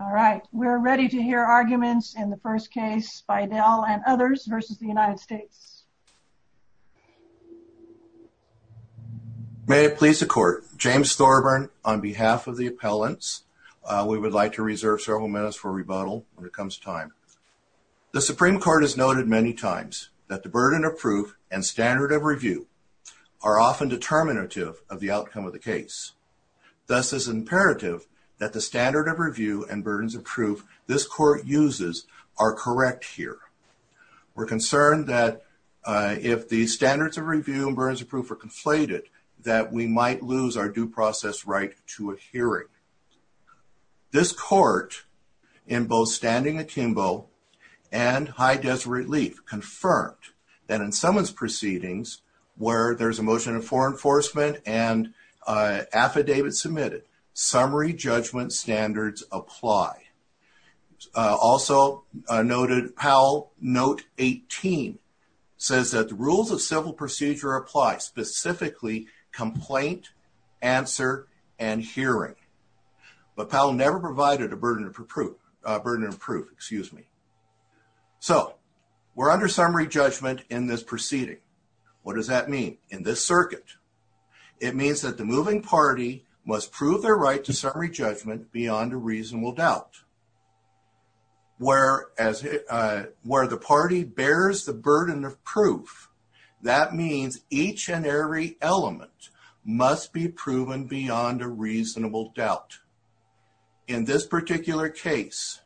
All right we're ready to hear arguments in the first case Beidell and others versus the United States. May it please the court, James Thorburn on behalf of the appellants, we would like to reserve several minutes for rebuttal when it comes time. The Supreme Court has noted many times that the burden of proof and standard of review are often determinative of the outcome of the case. Thus is imperative that the standard of review and burdens of proof this court uses are correct here. We're concerned that if the standards of review and burdens of proof are conflated that we might lose our due process right to a hearing. This court in both standing atembo and high-desk relief confirmed that in someone's proceedings where there's a motion for enforcement and affidavit submitted summary judgment standards apply. Also noted Powell note 18 says that the rules of civil procedure apply specifically complaint answer and hearing but Powell never provided a burden of proof burden of proof excuse me. So we're under summary judgment in this proceeding. What does that mean? In this circuit it means that the moving party must prove their right to summary judgment beyond a reasonable doubt. Where as where the party bears the burden of proof that means each and every element must be proven beyond a reasonable doubt. In this particular case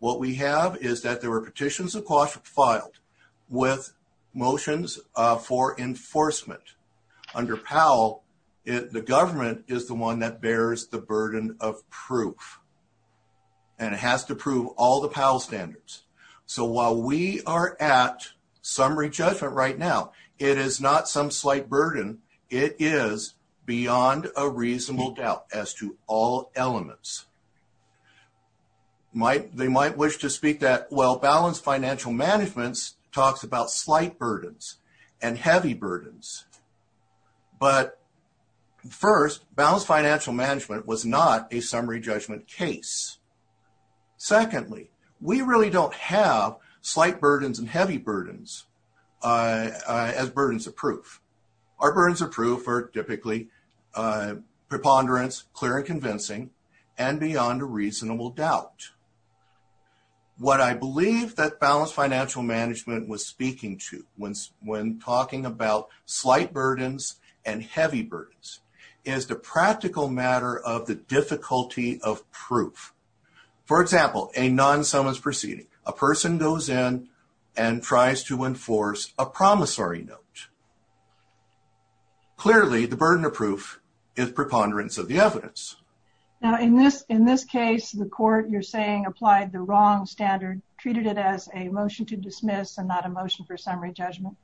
what we have is that there were petitions of caution filed with motions for enforcement under Powell if the government is the one that bears the burden of proof and it has to prove all the Powell standards. So while we are at summary judgment right now it is not some slight burden it is beyond a reasonable doubt as to all elements. They might wish to speak that well balanced financial management talks about slight burdens and heavy burdens but first balanced financial management was not a summary judgment case. Secondly we really don't have slight burdens and heavy burdens as burdens of proof. Our burdens of proof are typically preponderance clear and convincing and beyond a reasonable doubt. What I believe that balanced financial management was speaking to when talking about slight burdens and heavy burdens is the practical matter of the difficulty of proof. For example a non-summons proceeding a person goes in and tries to is preponderance of the evidence. Now in this in this case the court you're saying applied the wrong standard treated it as a motion to dismiss and not a motion for summary judgment.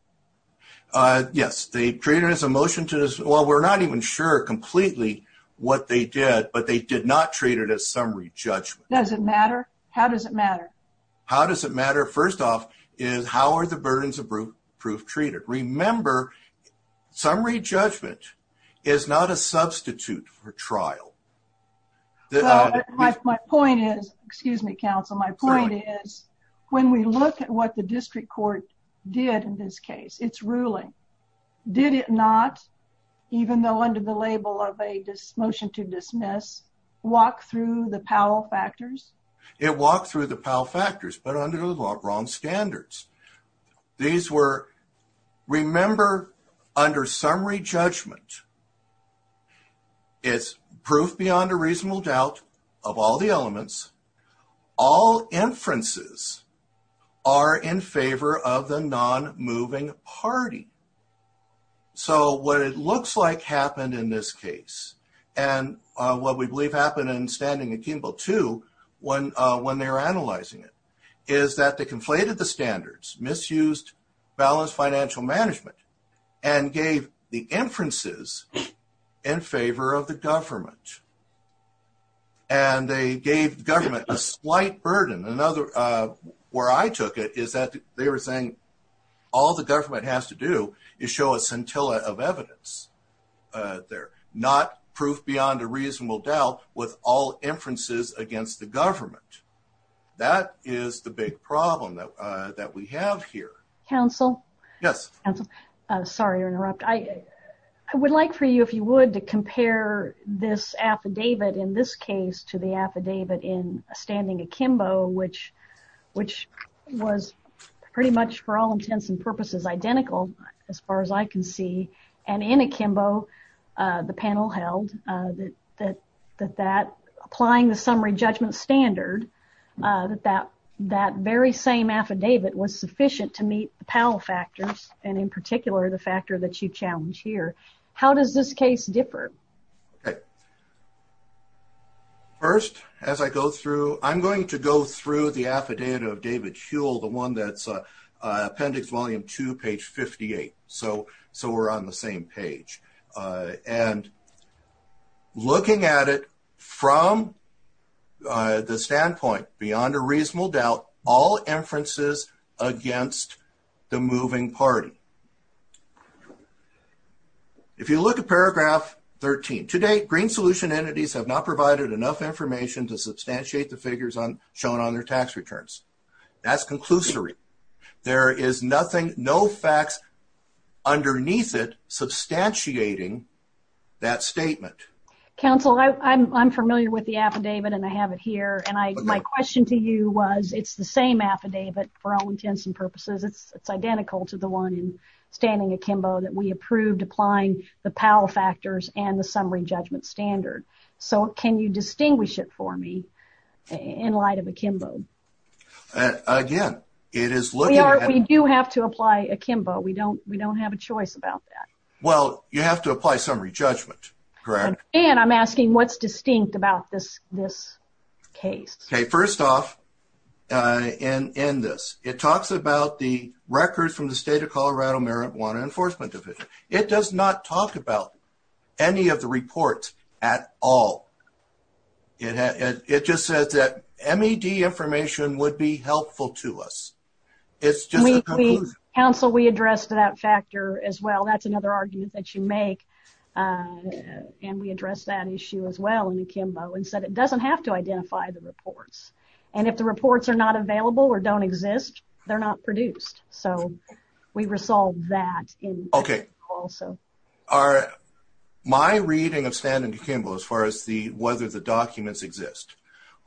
Yes they treated it as a motion to dismiss. Well we're not even sure completely what they did but they did not treat it as summary judgment. Does it matter? How does it matter? How does it matter? First off is how are the substitute for trial? My point is excuse me counsel my point is when we look at what the district court did in this case it's ruling. Did it not even though under the label of a motion to dismiss walk through the Powell factors? It walked through the Powell factors but under the law of wrong standards. These were remember under summary judgment. It's proof beyond a reasonable doubt of all the elements. All inferences are in favor of the non-moving party. So what it looks like happened in this case and what we believe happened in Standing and Kimball too when when they were analyzing it is that they conflated the balanced financial management and gave the inferences in favor of the government and they gave government a slight burden another where I took it is that they were saying all the government has to do is show a scintilla of evidence they're not proof beyond a reasonable doubt with all inferences against the counsel yes I'm sorry to interrupt I I would like for you if you would to compare this affidavit in this case to the affidavit in a standing akimbo which which was pretty much for all intents and purposes identical as far as I can see and in akimbo the panel held that that that applying the summary judgment standard that that that very same affidavit was sufficient to meet the Powell factors and in particular the factor that you challenge here how does this case differ okay first as I go through I'm going to go through the affidavit of David Huell the one that's appendix volume to page 58 so so we're on the same page and looking at it from the standpoint beyond a reasonable doubt all inferences against the moving party if you look at paragraph 13 today green solution entities have not provided enough information to substantiate the figures on shown on their tax returns that's conclusory there is nothing no facts underneath it substantiating that statement counsel I'm familiar with the affidavit and I have it here and I my question to you was it's the same affidavit for all intents and purposes it's identical to the one in standing akimbo that we approved applying the Powell factors and the summary judgment standard so can you distinguish it for me in light of akimbo again it is look we don't we don't have a choice about that well you have to apply summary judgment correct and I'm asking what's distinct about this this case okay first off in in this it talks about the records from the state of Colorado marijuana enforcement division it does not talk about any of the reports at all it had it just said that MED information would be helpful to us it's just a counsel we addressed that factor as well that's another argument that you make and we address that issue as well in akimbo and said it doesn't have to identify the reports and if the reports are not available or don't exist they're not produced so we resolve that okay also are my reading of standing akimbo as far as the whether the documents exist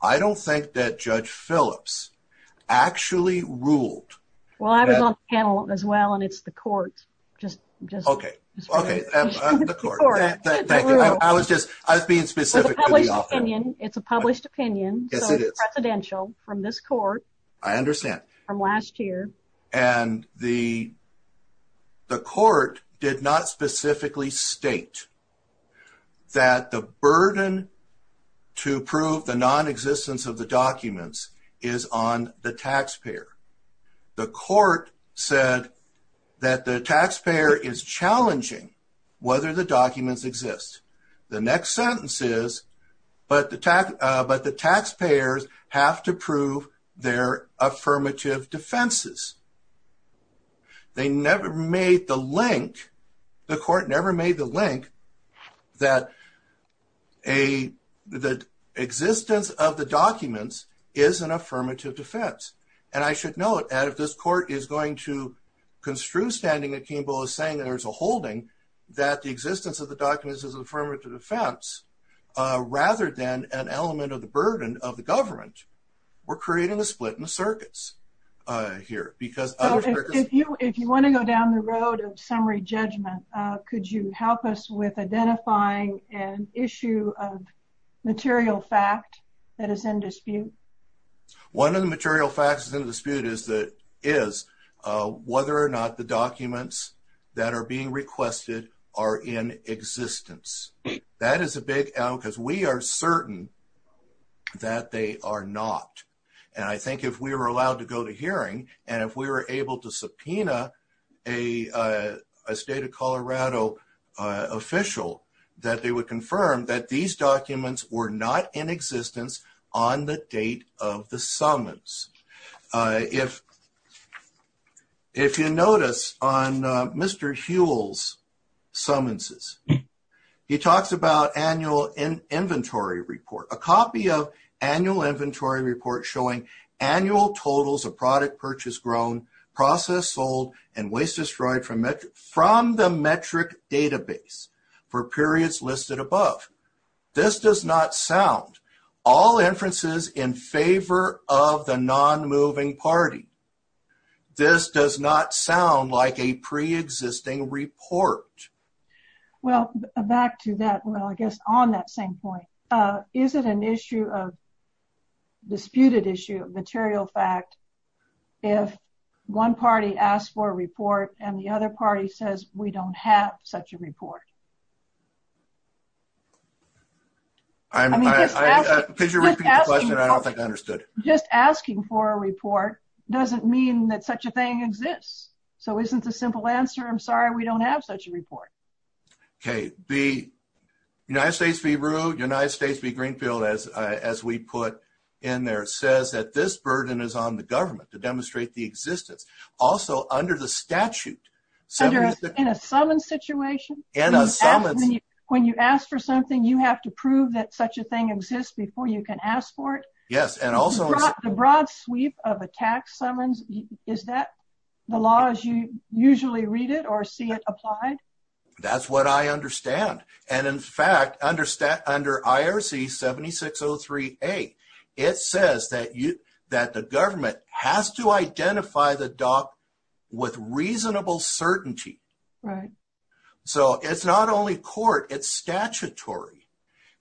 I don't think that judge Phillips actually ruled well I was on panel as well and it's the court just just okay okay I was just I've been specific opinion it's a published opinion presidential from this court I understand from last year and the the court did not specifically state that the burden to prove the non-existence of the documents is on the taxpayer the court said that the taxpayer is challenging whether the documents exist the next sentence is but the tax but the taxpayers have to prove their affirmative defenses they never made the the court never made the link that a the existence of the documents is an affirmative defense and I should note and if this court is going to construe standing akimbo is saying there's a holding that the existence of the documents is affirmative defense rather than an element of the burden of the government we're creating a split in the circuits here because if you if you want to go down the road of summary judgment could you help us with identifying an issue of material fact that is in dispute one of the material facts is in dispute is that is whether or not the documents that are being requested are in existence that is a big out because we are certain that they are not and I a state of Colorado official that they would confirm that these documents were not in existence on the date of the summons if if you notice on mr. Huell's summonses he talks about annual in inventory report a copy of annual inventory report showing annual totals of product purchase grown process sold and waste destroyed from it from the metric database for periods listed above this does not sound all inferences in favor of the non-moving party this does not sound like a pre-existing report well back to that well I guess on that same point is it an issue of disputed issue of material fact if one party asked for a report and the other party says we don't have such a report just asking for a report doesn't mean that such a thing exists so isn't a simple answer I'm sorry we don't have such a report okay the United States be rude United States be Greenfield as as we put in there says that this burden is on the government to the statute when you ask for something you have to prove that such a thing exists before you can ask for it yes and also the broad sweep of attacks summons is that the law as you usually read it or see it applied that's what I understand and in fact understand under IRC 7603 a it says that you that the reasonable certainty so it's not only court it's statutory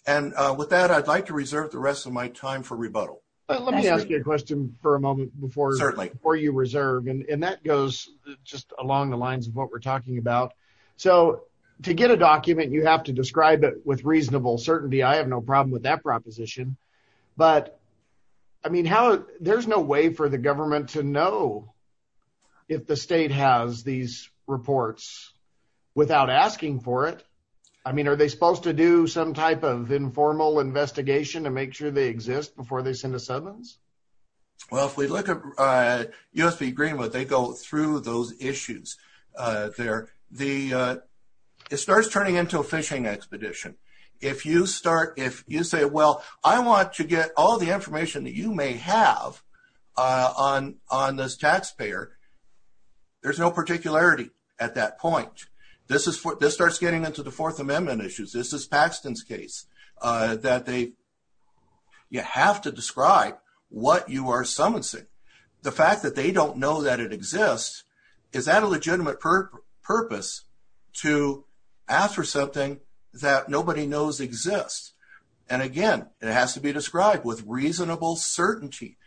and with that I'd like to reserve the rest of my time for rebuttal let me ask you a question for a moment before certainly or you reserve and that goes just along the lines of what we're talking about so to get a document you have to describe it with reasonable certainty I have no problem with that proposition but I mean how there's no way for the government to know if the state has these reports without asking for it I mean are they supposed to do some type of informal investigation to make sure they exist before they send a sentence well if we look at USB greenwood they go through those issues there the it starts turning into a fishing expedition if you start if you say well I want to get all the information that you may have on on this taxpayer there's no particularity at that point this is what this starts getting into the Fourth Amendment issues this is Paxton's case that they you have to describe what you are summonsing the fact that they don't know that it exists is that a legitimate purpose to ask for exists and again it has to be described with reasonable certainty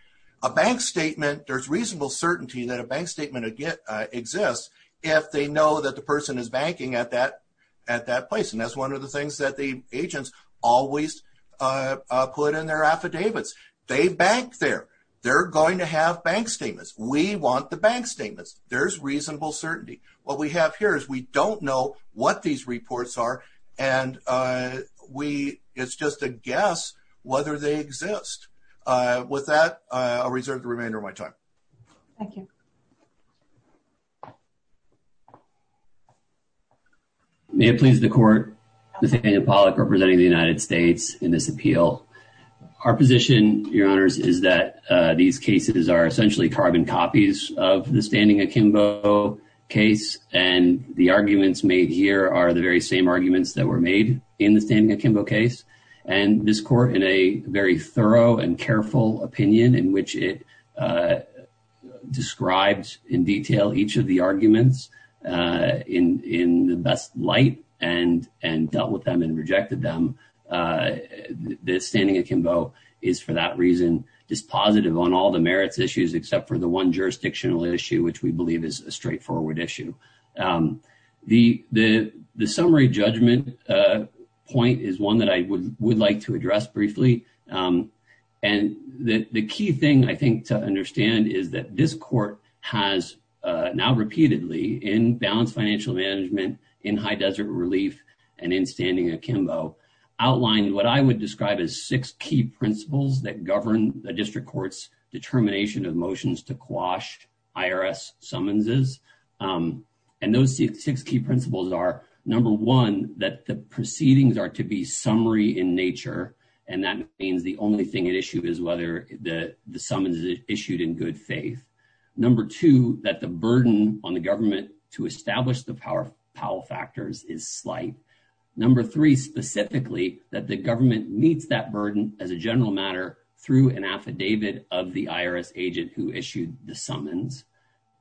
a bank statement there's reasonable certainty that a bank statement again exists if they know that the person is banking at that at that place and that's one of the things that the agents always put in their affidavits they back there they're going to have bank statements we want the bank statements there's reasonable certainty what we have here is we don't know what these reports are and we it's just a guess whether they exist with that I'll reserve the remainder of my time may it please the court the thing in public representing the United States in this appeal our position your honors is that these cases are essentially carbon copies of the standing akimbo case and the arguments made here are the very same arguments that were made in the standing akimbo case and this court in a very thorough and careful opinion in which it describes in detail each of the arguments in in the best light and and dealt with them and rejected them the standing akimbo is for that reason dispositive on all the merits issues except for the one jurisdictional issue which we believe is a straightforward issue the the the summary judgment point is one that I would like to address briefly and the key thing I think to understand is that this court has now repeatedly in balanced financial management in high desert relief and in standing akimbo outlined what I would describe as six key principles that to quash IRS summonses and those six key principles are number one that the proceedings are to be summary in nature and that means the only thing at issue is whether the summons is issued in good faith number two that the burden on the government to establish the power power factors is slight number three specifically that the government meets that burden as a general matter through an affidavit of the IRS agent who issued the summons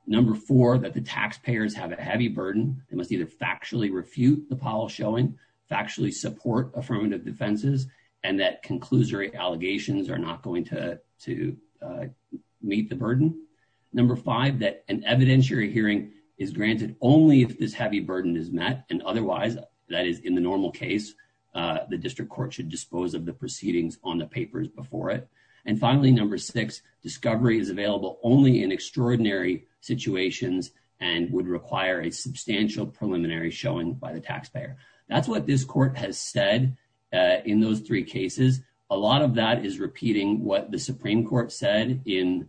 number four that the taxpayers have a heavy burden they must either factually refute the Powell showing factually support affirmative defenses and that conclusory allegations are not going to to meet the burden number five that an evidentiary hearing is granted only if this heavy burden is met and otherwise that is in the normal case the district court should dispose of the proceedings on the papers before it and finally number six discovery is available only in extraordinary situations and would require a substantial preliminary showing by the taxpayer that's what this court has said in those three cases a lot of that is repeating what the Supreme Court said in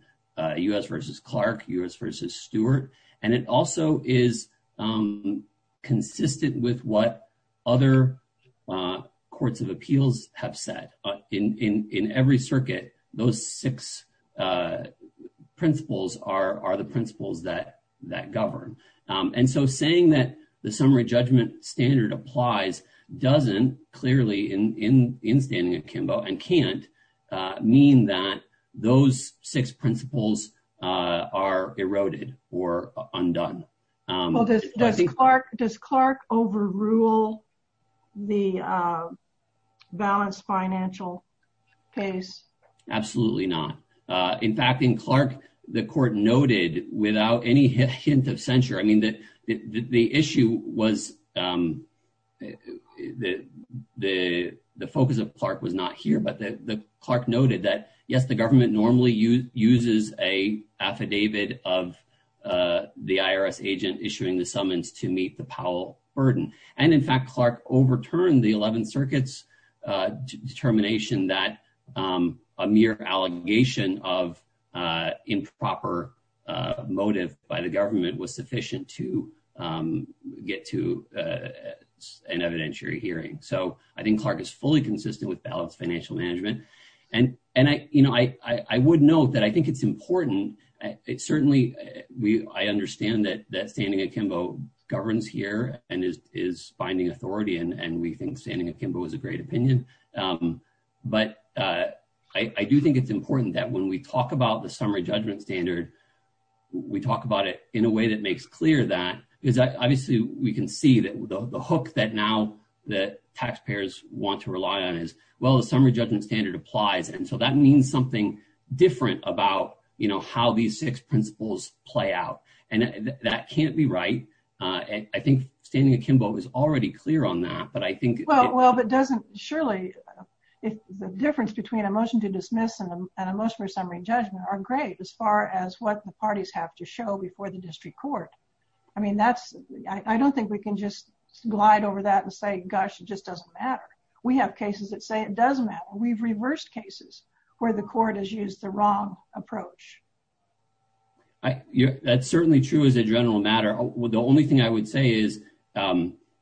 u.s. versus Clark u.s. versus Stewart and it also is consistent with what other courts of appeals have said in in in every circuit those six principles are are the principles that that govern and so saying that the summary judgment standard applies doesn't clearly in in in standing akimbo and can't mean that those six principles are eroded or absolutely not in fact in Clark the court noted without any hint of censure I mean that the issue was the the focus of Clark was not here but the Clark noted that yes the government normally you uses a affidavit of the IRS agent issuing the summons to meet the Powell burden and in fact Clark overturned the mere allegation of improper motive by the government was sufficient to get to an evidentiary hearing so I think Clark is fully consistent with balanced financial management and and I you know I I would note that I think it's important it certainly we I understand that that standing akimbo governs here and is is finding authority and and we think standing akimbo is a great opinion but I do think it's important that when we talk about the summary judgment standard we talk about it in a way that makes clear that is obviously we can see that the hook that now the taxpayers want to rely on is well the summary judgment standard applies and so that means something different about you know how these six principles play out and that can't be right and I think standing akimbo is already clear on that but I think well well it doesn't surely if the difference between a motion to dismiss and a motion for summary judgment are great as far as what the parties have to show before the district court I mean that's I don't think we can just glide over that and say gosh it just doesn't matter we have cases that say it doesn't matter we've reversed cases where the court has used the wrong approach I yeah that's certainly true as a general matter the only thing I would say is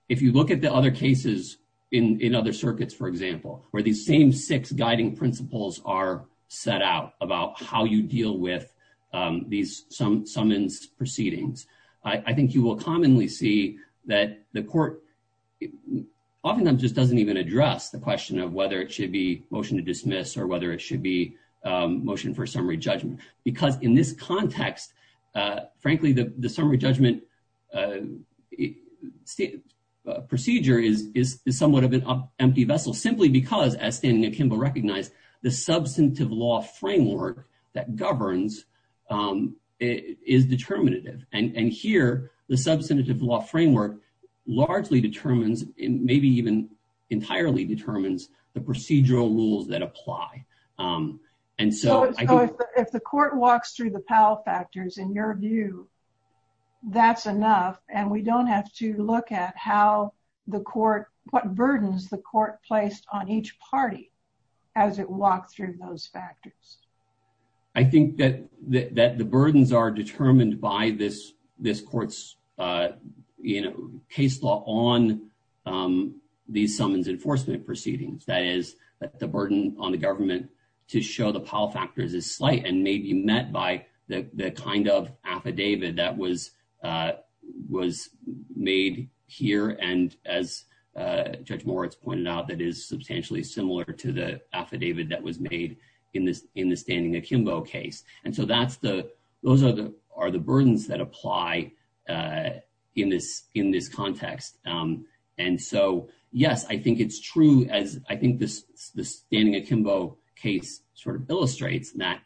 if you look at the other cases in in other circuits for example where these same six guiding principles are set out about how you deal with these some summons proceedings I think you will commonly see that the court oftentimes just doesn't even address the question of whether it should be motion to dismiss or whether it should be motion for summary judgment procedure is is somewhat of an empty vessel simply because as standing akimbo recognized the substantive law framework that governs is determinative and and here the substantive law framework largely determines in maybe even entirely determines the procedural rules that that's enough and we don't have to look at how the court what burdens the court placed on each party as it walked through those factors I think that that the burdens are determined by this this courts you know case law on these summons enforcement proceedings that is the burden on the government to show the affidavit that was was made here and as judge Moritz pointed out that is substantially similar to the affidavit that was made in this in the standing akimbo case and so that's the those are the are the burdens that apply in this in this context and so yes I think it's true as I think this standing akimbo case sort of illustrates that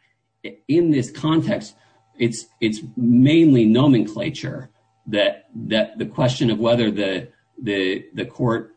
in this context it's it's mainly nomenclature that that the question of whether the the the court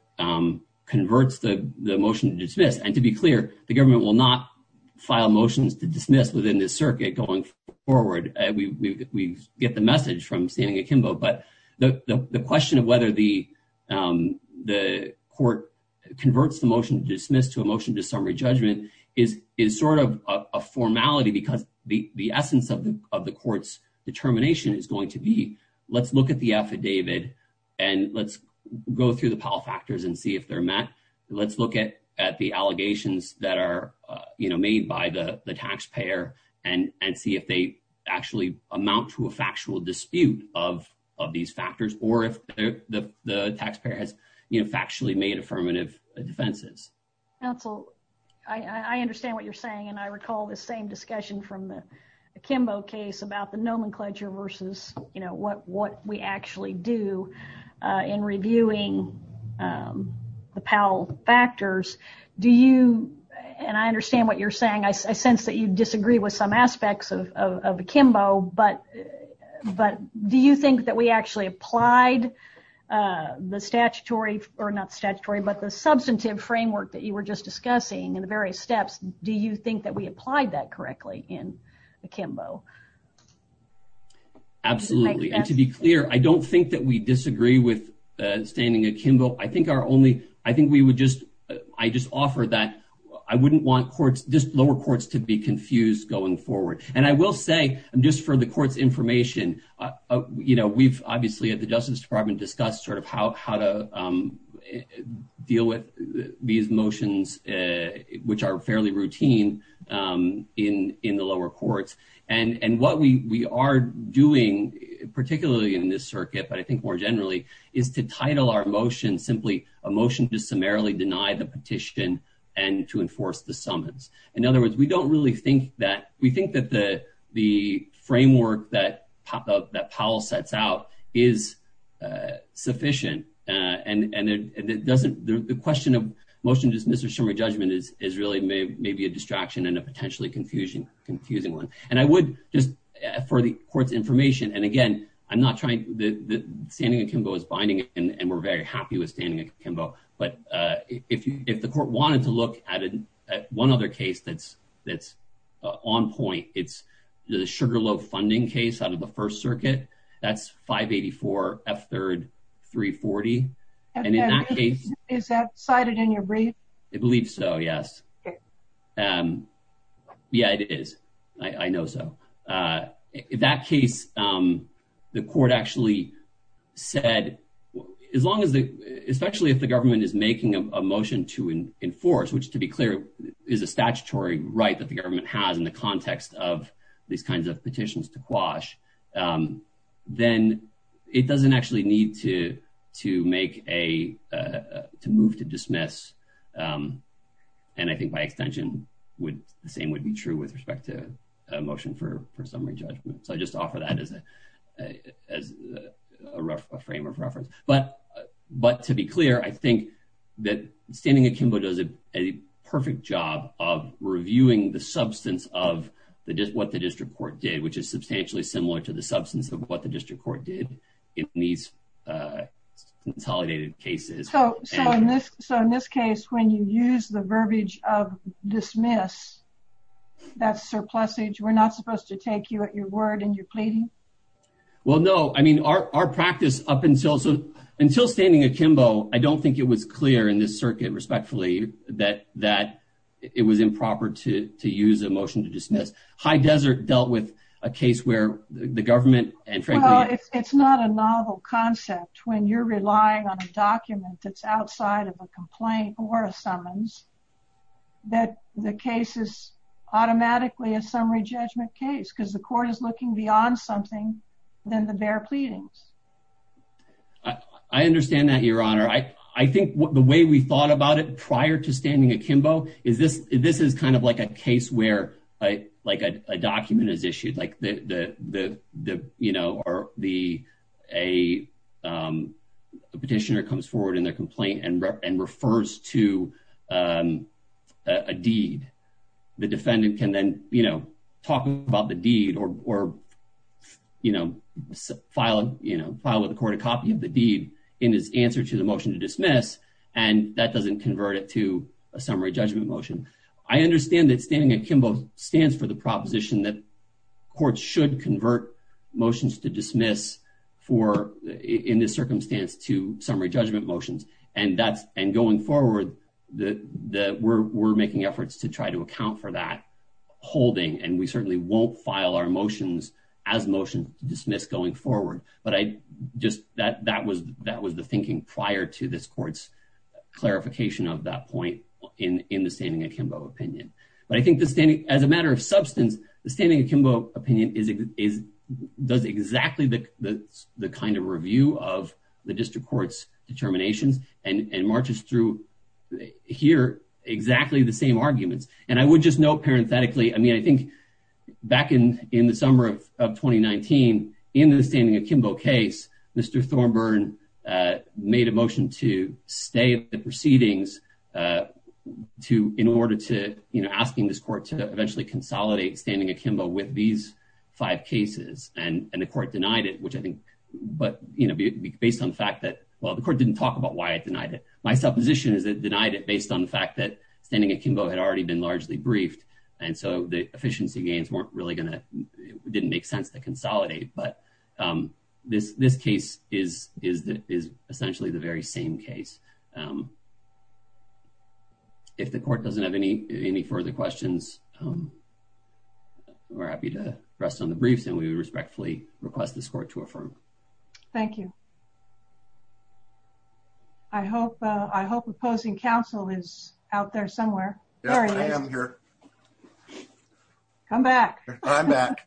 converts the the motion to dismiss and to be clear the government will not file motions to dismiss within this circuit going forward we get the message from standing akimbo but the question of whether the the court converts the motion to dismiss to a is is sort of a formality because the the essence of the of the courts determination is going to be let's look at the affidavit and let's go through the power factors and see if they're met let's look at at the allegations that are you know made by the the taxpayer and and see if they actually amount to a factual dispute of of these factors or if the the taxpayer has you know actually made affirmative defenses that's all I understand what you're saying and I recall the same discussion from the akimbo case about the nomenclature versus you know what what we actually do in reviewing the Powell factors do you and I understand what you're saying I sense that you disagree with some aspects of akimbo but but do you think that we actually applied the statutory but the substantive framework that you were just discussing in the various steps do you think that we applied that correctly in akimbo absolutely and to be clear I don't think that we disagree with standing akimbo I think our only I think we would just I just offer that I wouldn't want courts just lower courts to be confused going forward and I will say I'm just for the courts information you know we've obviously at the Justice Department discussed sort of how to deal with these motions which are fairly routine in in the lower courts and and what we are doing particularly in this circuit but I think more generally is to title our motion simply a motion to summarily deny the petition and to enforce the summons in other words we don't really think that we think that the the framework that pop-up that Powell sets out is sufficient and and it doesn't the question of motion dismissive summary judgment is is really maybe a distraction and a potentially confusion confusing one and I would just for the court's information and again I'm not trying the standing akimbo is binding and we're very happy with standing akimbo but if you if the court wanted to look at it one other case that's that's on point it's the Sugarloaf funding case out of the First Circuit that's 584 f third 340 and in that case is that cited in your brief I believe so yes yeah it is I know so in that case the court actually said as long as the especially if the government is making a motion to enforce which to be clear is a statutory right that the government has in the context of these kinds of petitions to quash then it doesn't actually need to to make a to move to dismiss and I think by extension would the same would be true with respect to a motion for summary judgment so I just offer that as a frame of reference but but to be clear I think that standing akimbo does a perfect job of reviewing the substance of the just what the district court did which is substantially similar to the substance of what the district court did in these consolidated cases so in this so in this case when you use the verbiage of dismiss that's surplus age we're not supposed to take you at your word and you're pleading well no I mean our practice up until so until standing akimbo I don't think it was clear in this circuit respectfully that that it was improper to use a motion to dismiss high desert dealt with a case where the government and it's not a novel concept when you're relying on a document that's outside of a complaint or a summons that the case is automatically a summary judgment case because the court is looking beyond something then the bare pleadings I understand that your honor I I think what the way we thought about it prior to standing akimbo is this this is kind of like a case where I like a document is issued like the the the you know or the a petitioner comes forward in their complaint and and refers to a the defendant can then you know talk about the deed or you know filing you know file with the court a copy of the deed in his answer to the motion to dismiss and that doesn't convert it to a summary judgment motion I understand that standing akimbo stands for the proposition that courts should convert motions to dismiss for in this circumstance to summary judgment motions and that's and going forward that we're making efforts to try to account for that holding and we certainly won't file our motions as motion to dismiss going forward but I just that that was that was the thinking prior to this courts clarification of that point in in the standing akimbo opinion but I think the standing as a matter of substance the standing akimbo opinion is it is does exactly the the kind of review of the district courts determinations and and marches through here exactly the same arguments and I would just know parenthetically I mean I think back in in the summer of 2019 in the standing akimbo case mr. Thornburn made a motion to stay at the proceedings to in order to you know asking this court to eventually consolidate standing akimbo with these five cases and and the court denied it which I think but you know based on the fact that well the court didn't talk about why I denied it my supposition is that denied it based on the fact that standing akimbo had already been largely briefed and so the efficiency gains weren't really gonna didn't make sense to consolidate but this this case is is that is essentially the very same case if the court doesn't have any any further questions we're happy to rest on the briefs and we respectfully request this court to affirm thank you I hope I hope opposing counsel is out there somewhere I am here come back I'm back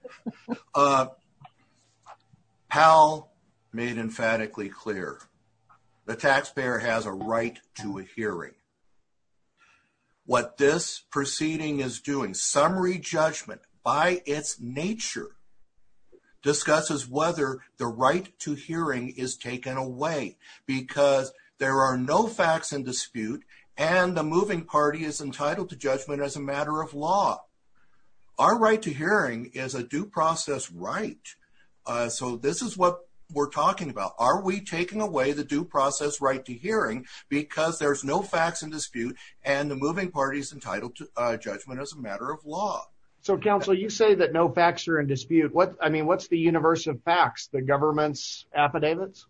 how made emphatically clear the taxpayer has a right to a hearing what this proceeding is doing summary judgment by its nature discusses whether the right to hearing is taken away because there are no facts in dispute and the moving party is entitled to judgment as a matter of law our right to hearing is a due process right so this is what we're talking about are we taking away the due process right to hearing because there's no facts in dispute and the moving parties entitled to judgment as a matter of law so counsel you say that no facts are in dispute what I mean what's the universe of facts the government's affidavits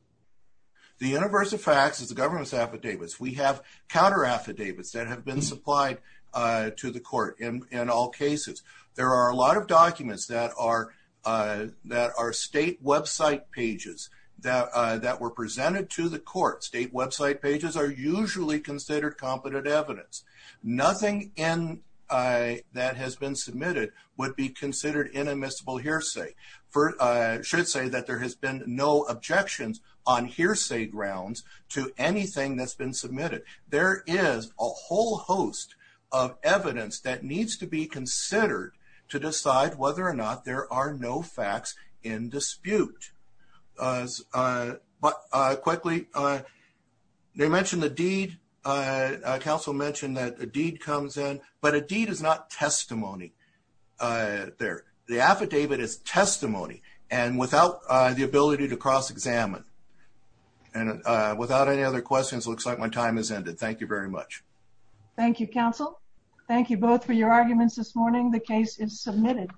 the universe of facts is the government's affidavits we have counter affidavits that have been supplied to the court in all cases there are a lot of documents that are that our state website pages that that were presented to the court state website pages are usually considered competent evidence nothing in that has been submitted would be considered inadmissible hearsay for should say that there has been no objections on hearsay grounds to anything that's been submitted there is a whole host of evidence that needs to be considered to decide whether or not there are no facts in dispute but quickly they mentioned the deed council mentioned that a deed comes in but a deed is not testimony there the ability to cross-examine and without any other questions looks like my time has ended thank you very much thank you counsel thank you both for your arguments this morning the case is submitted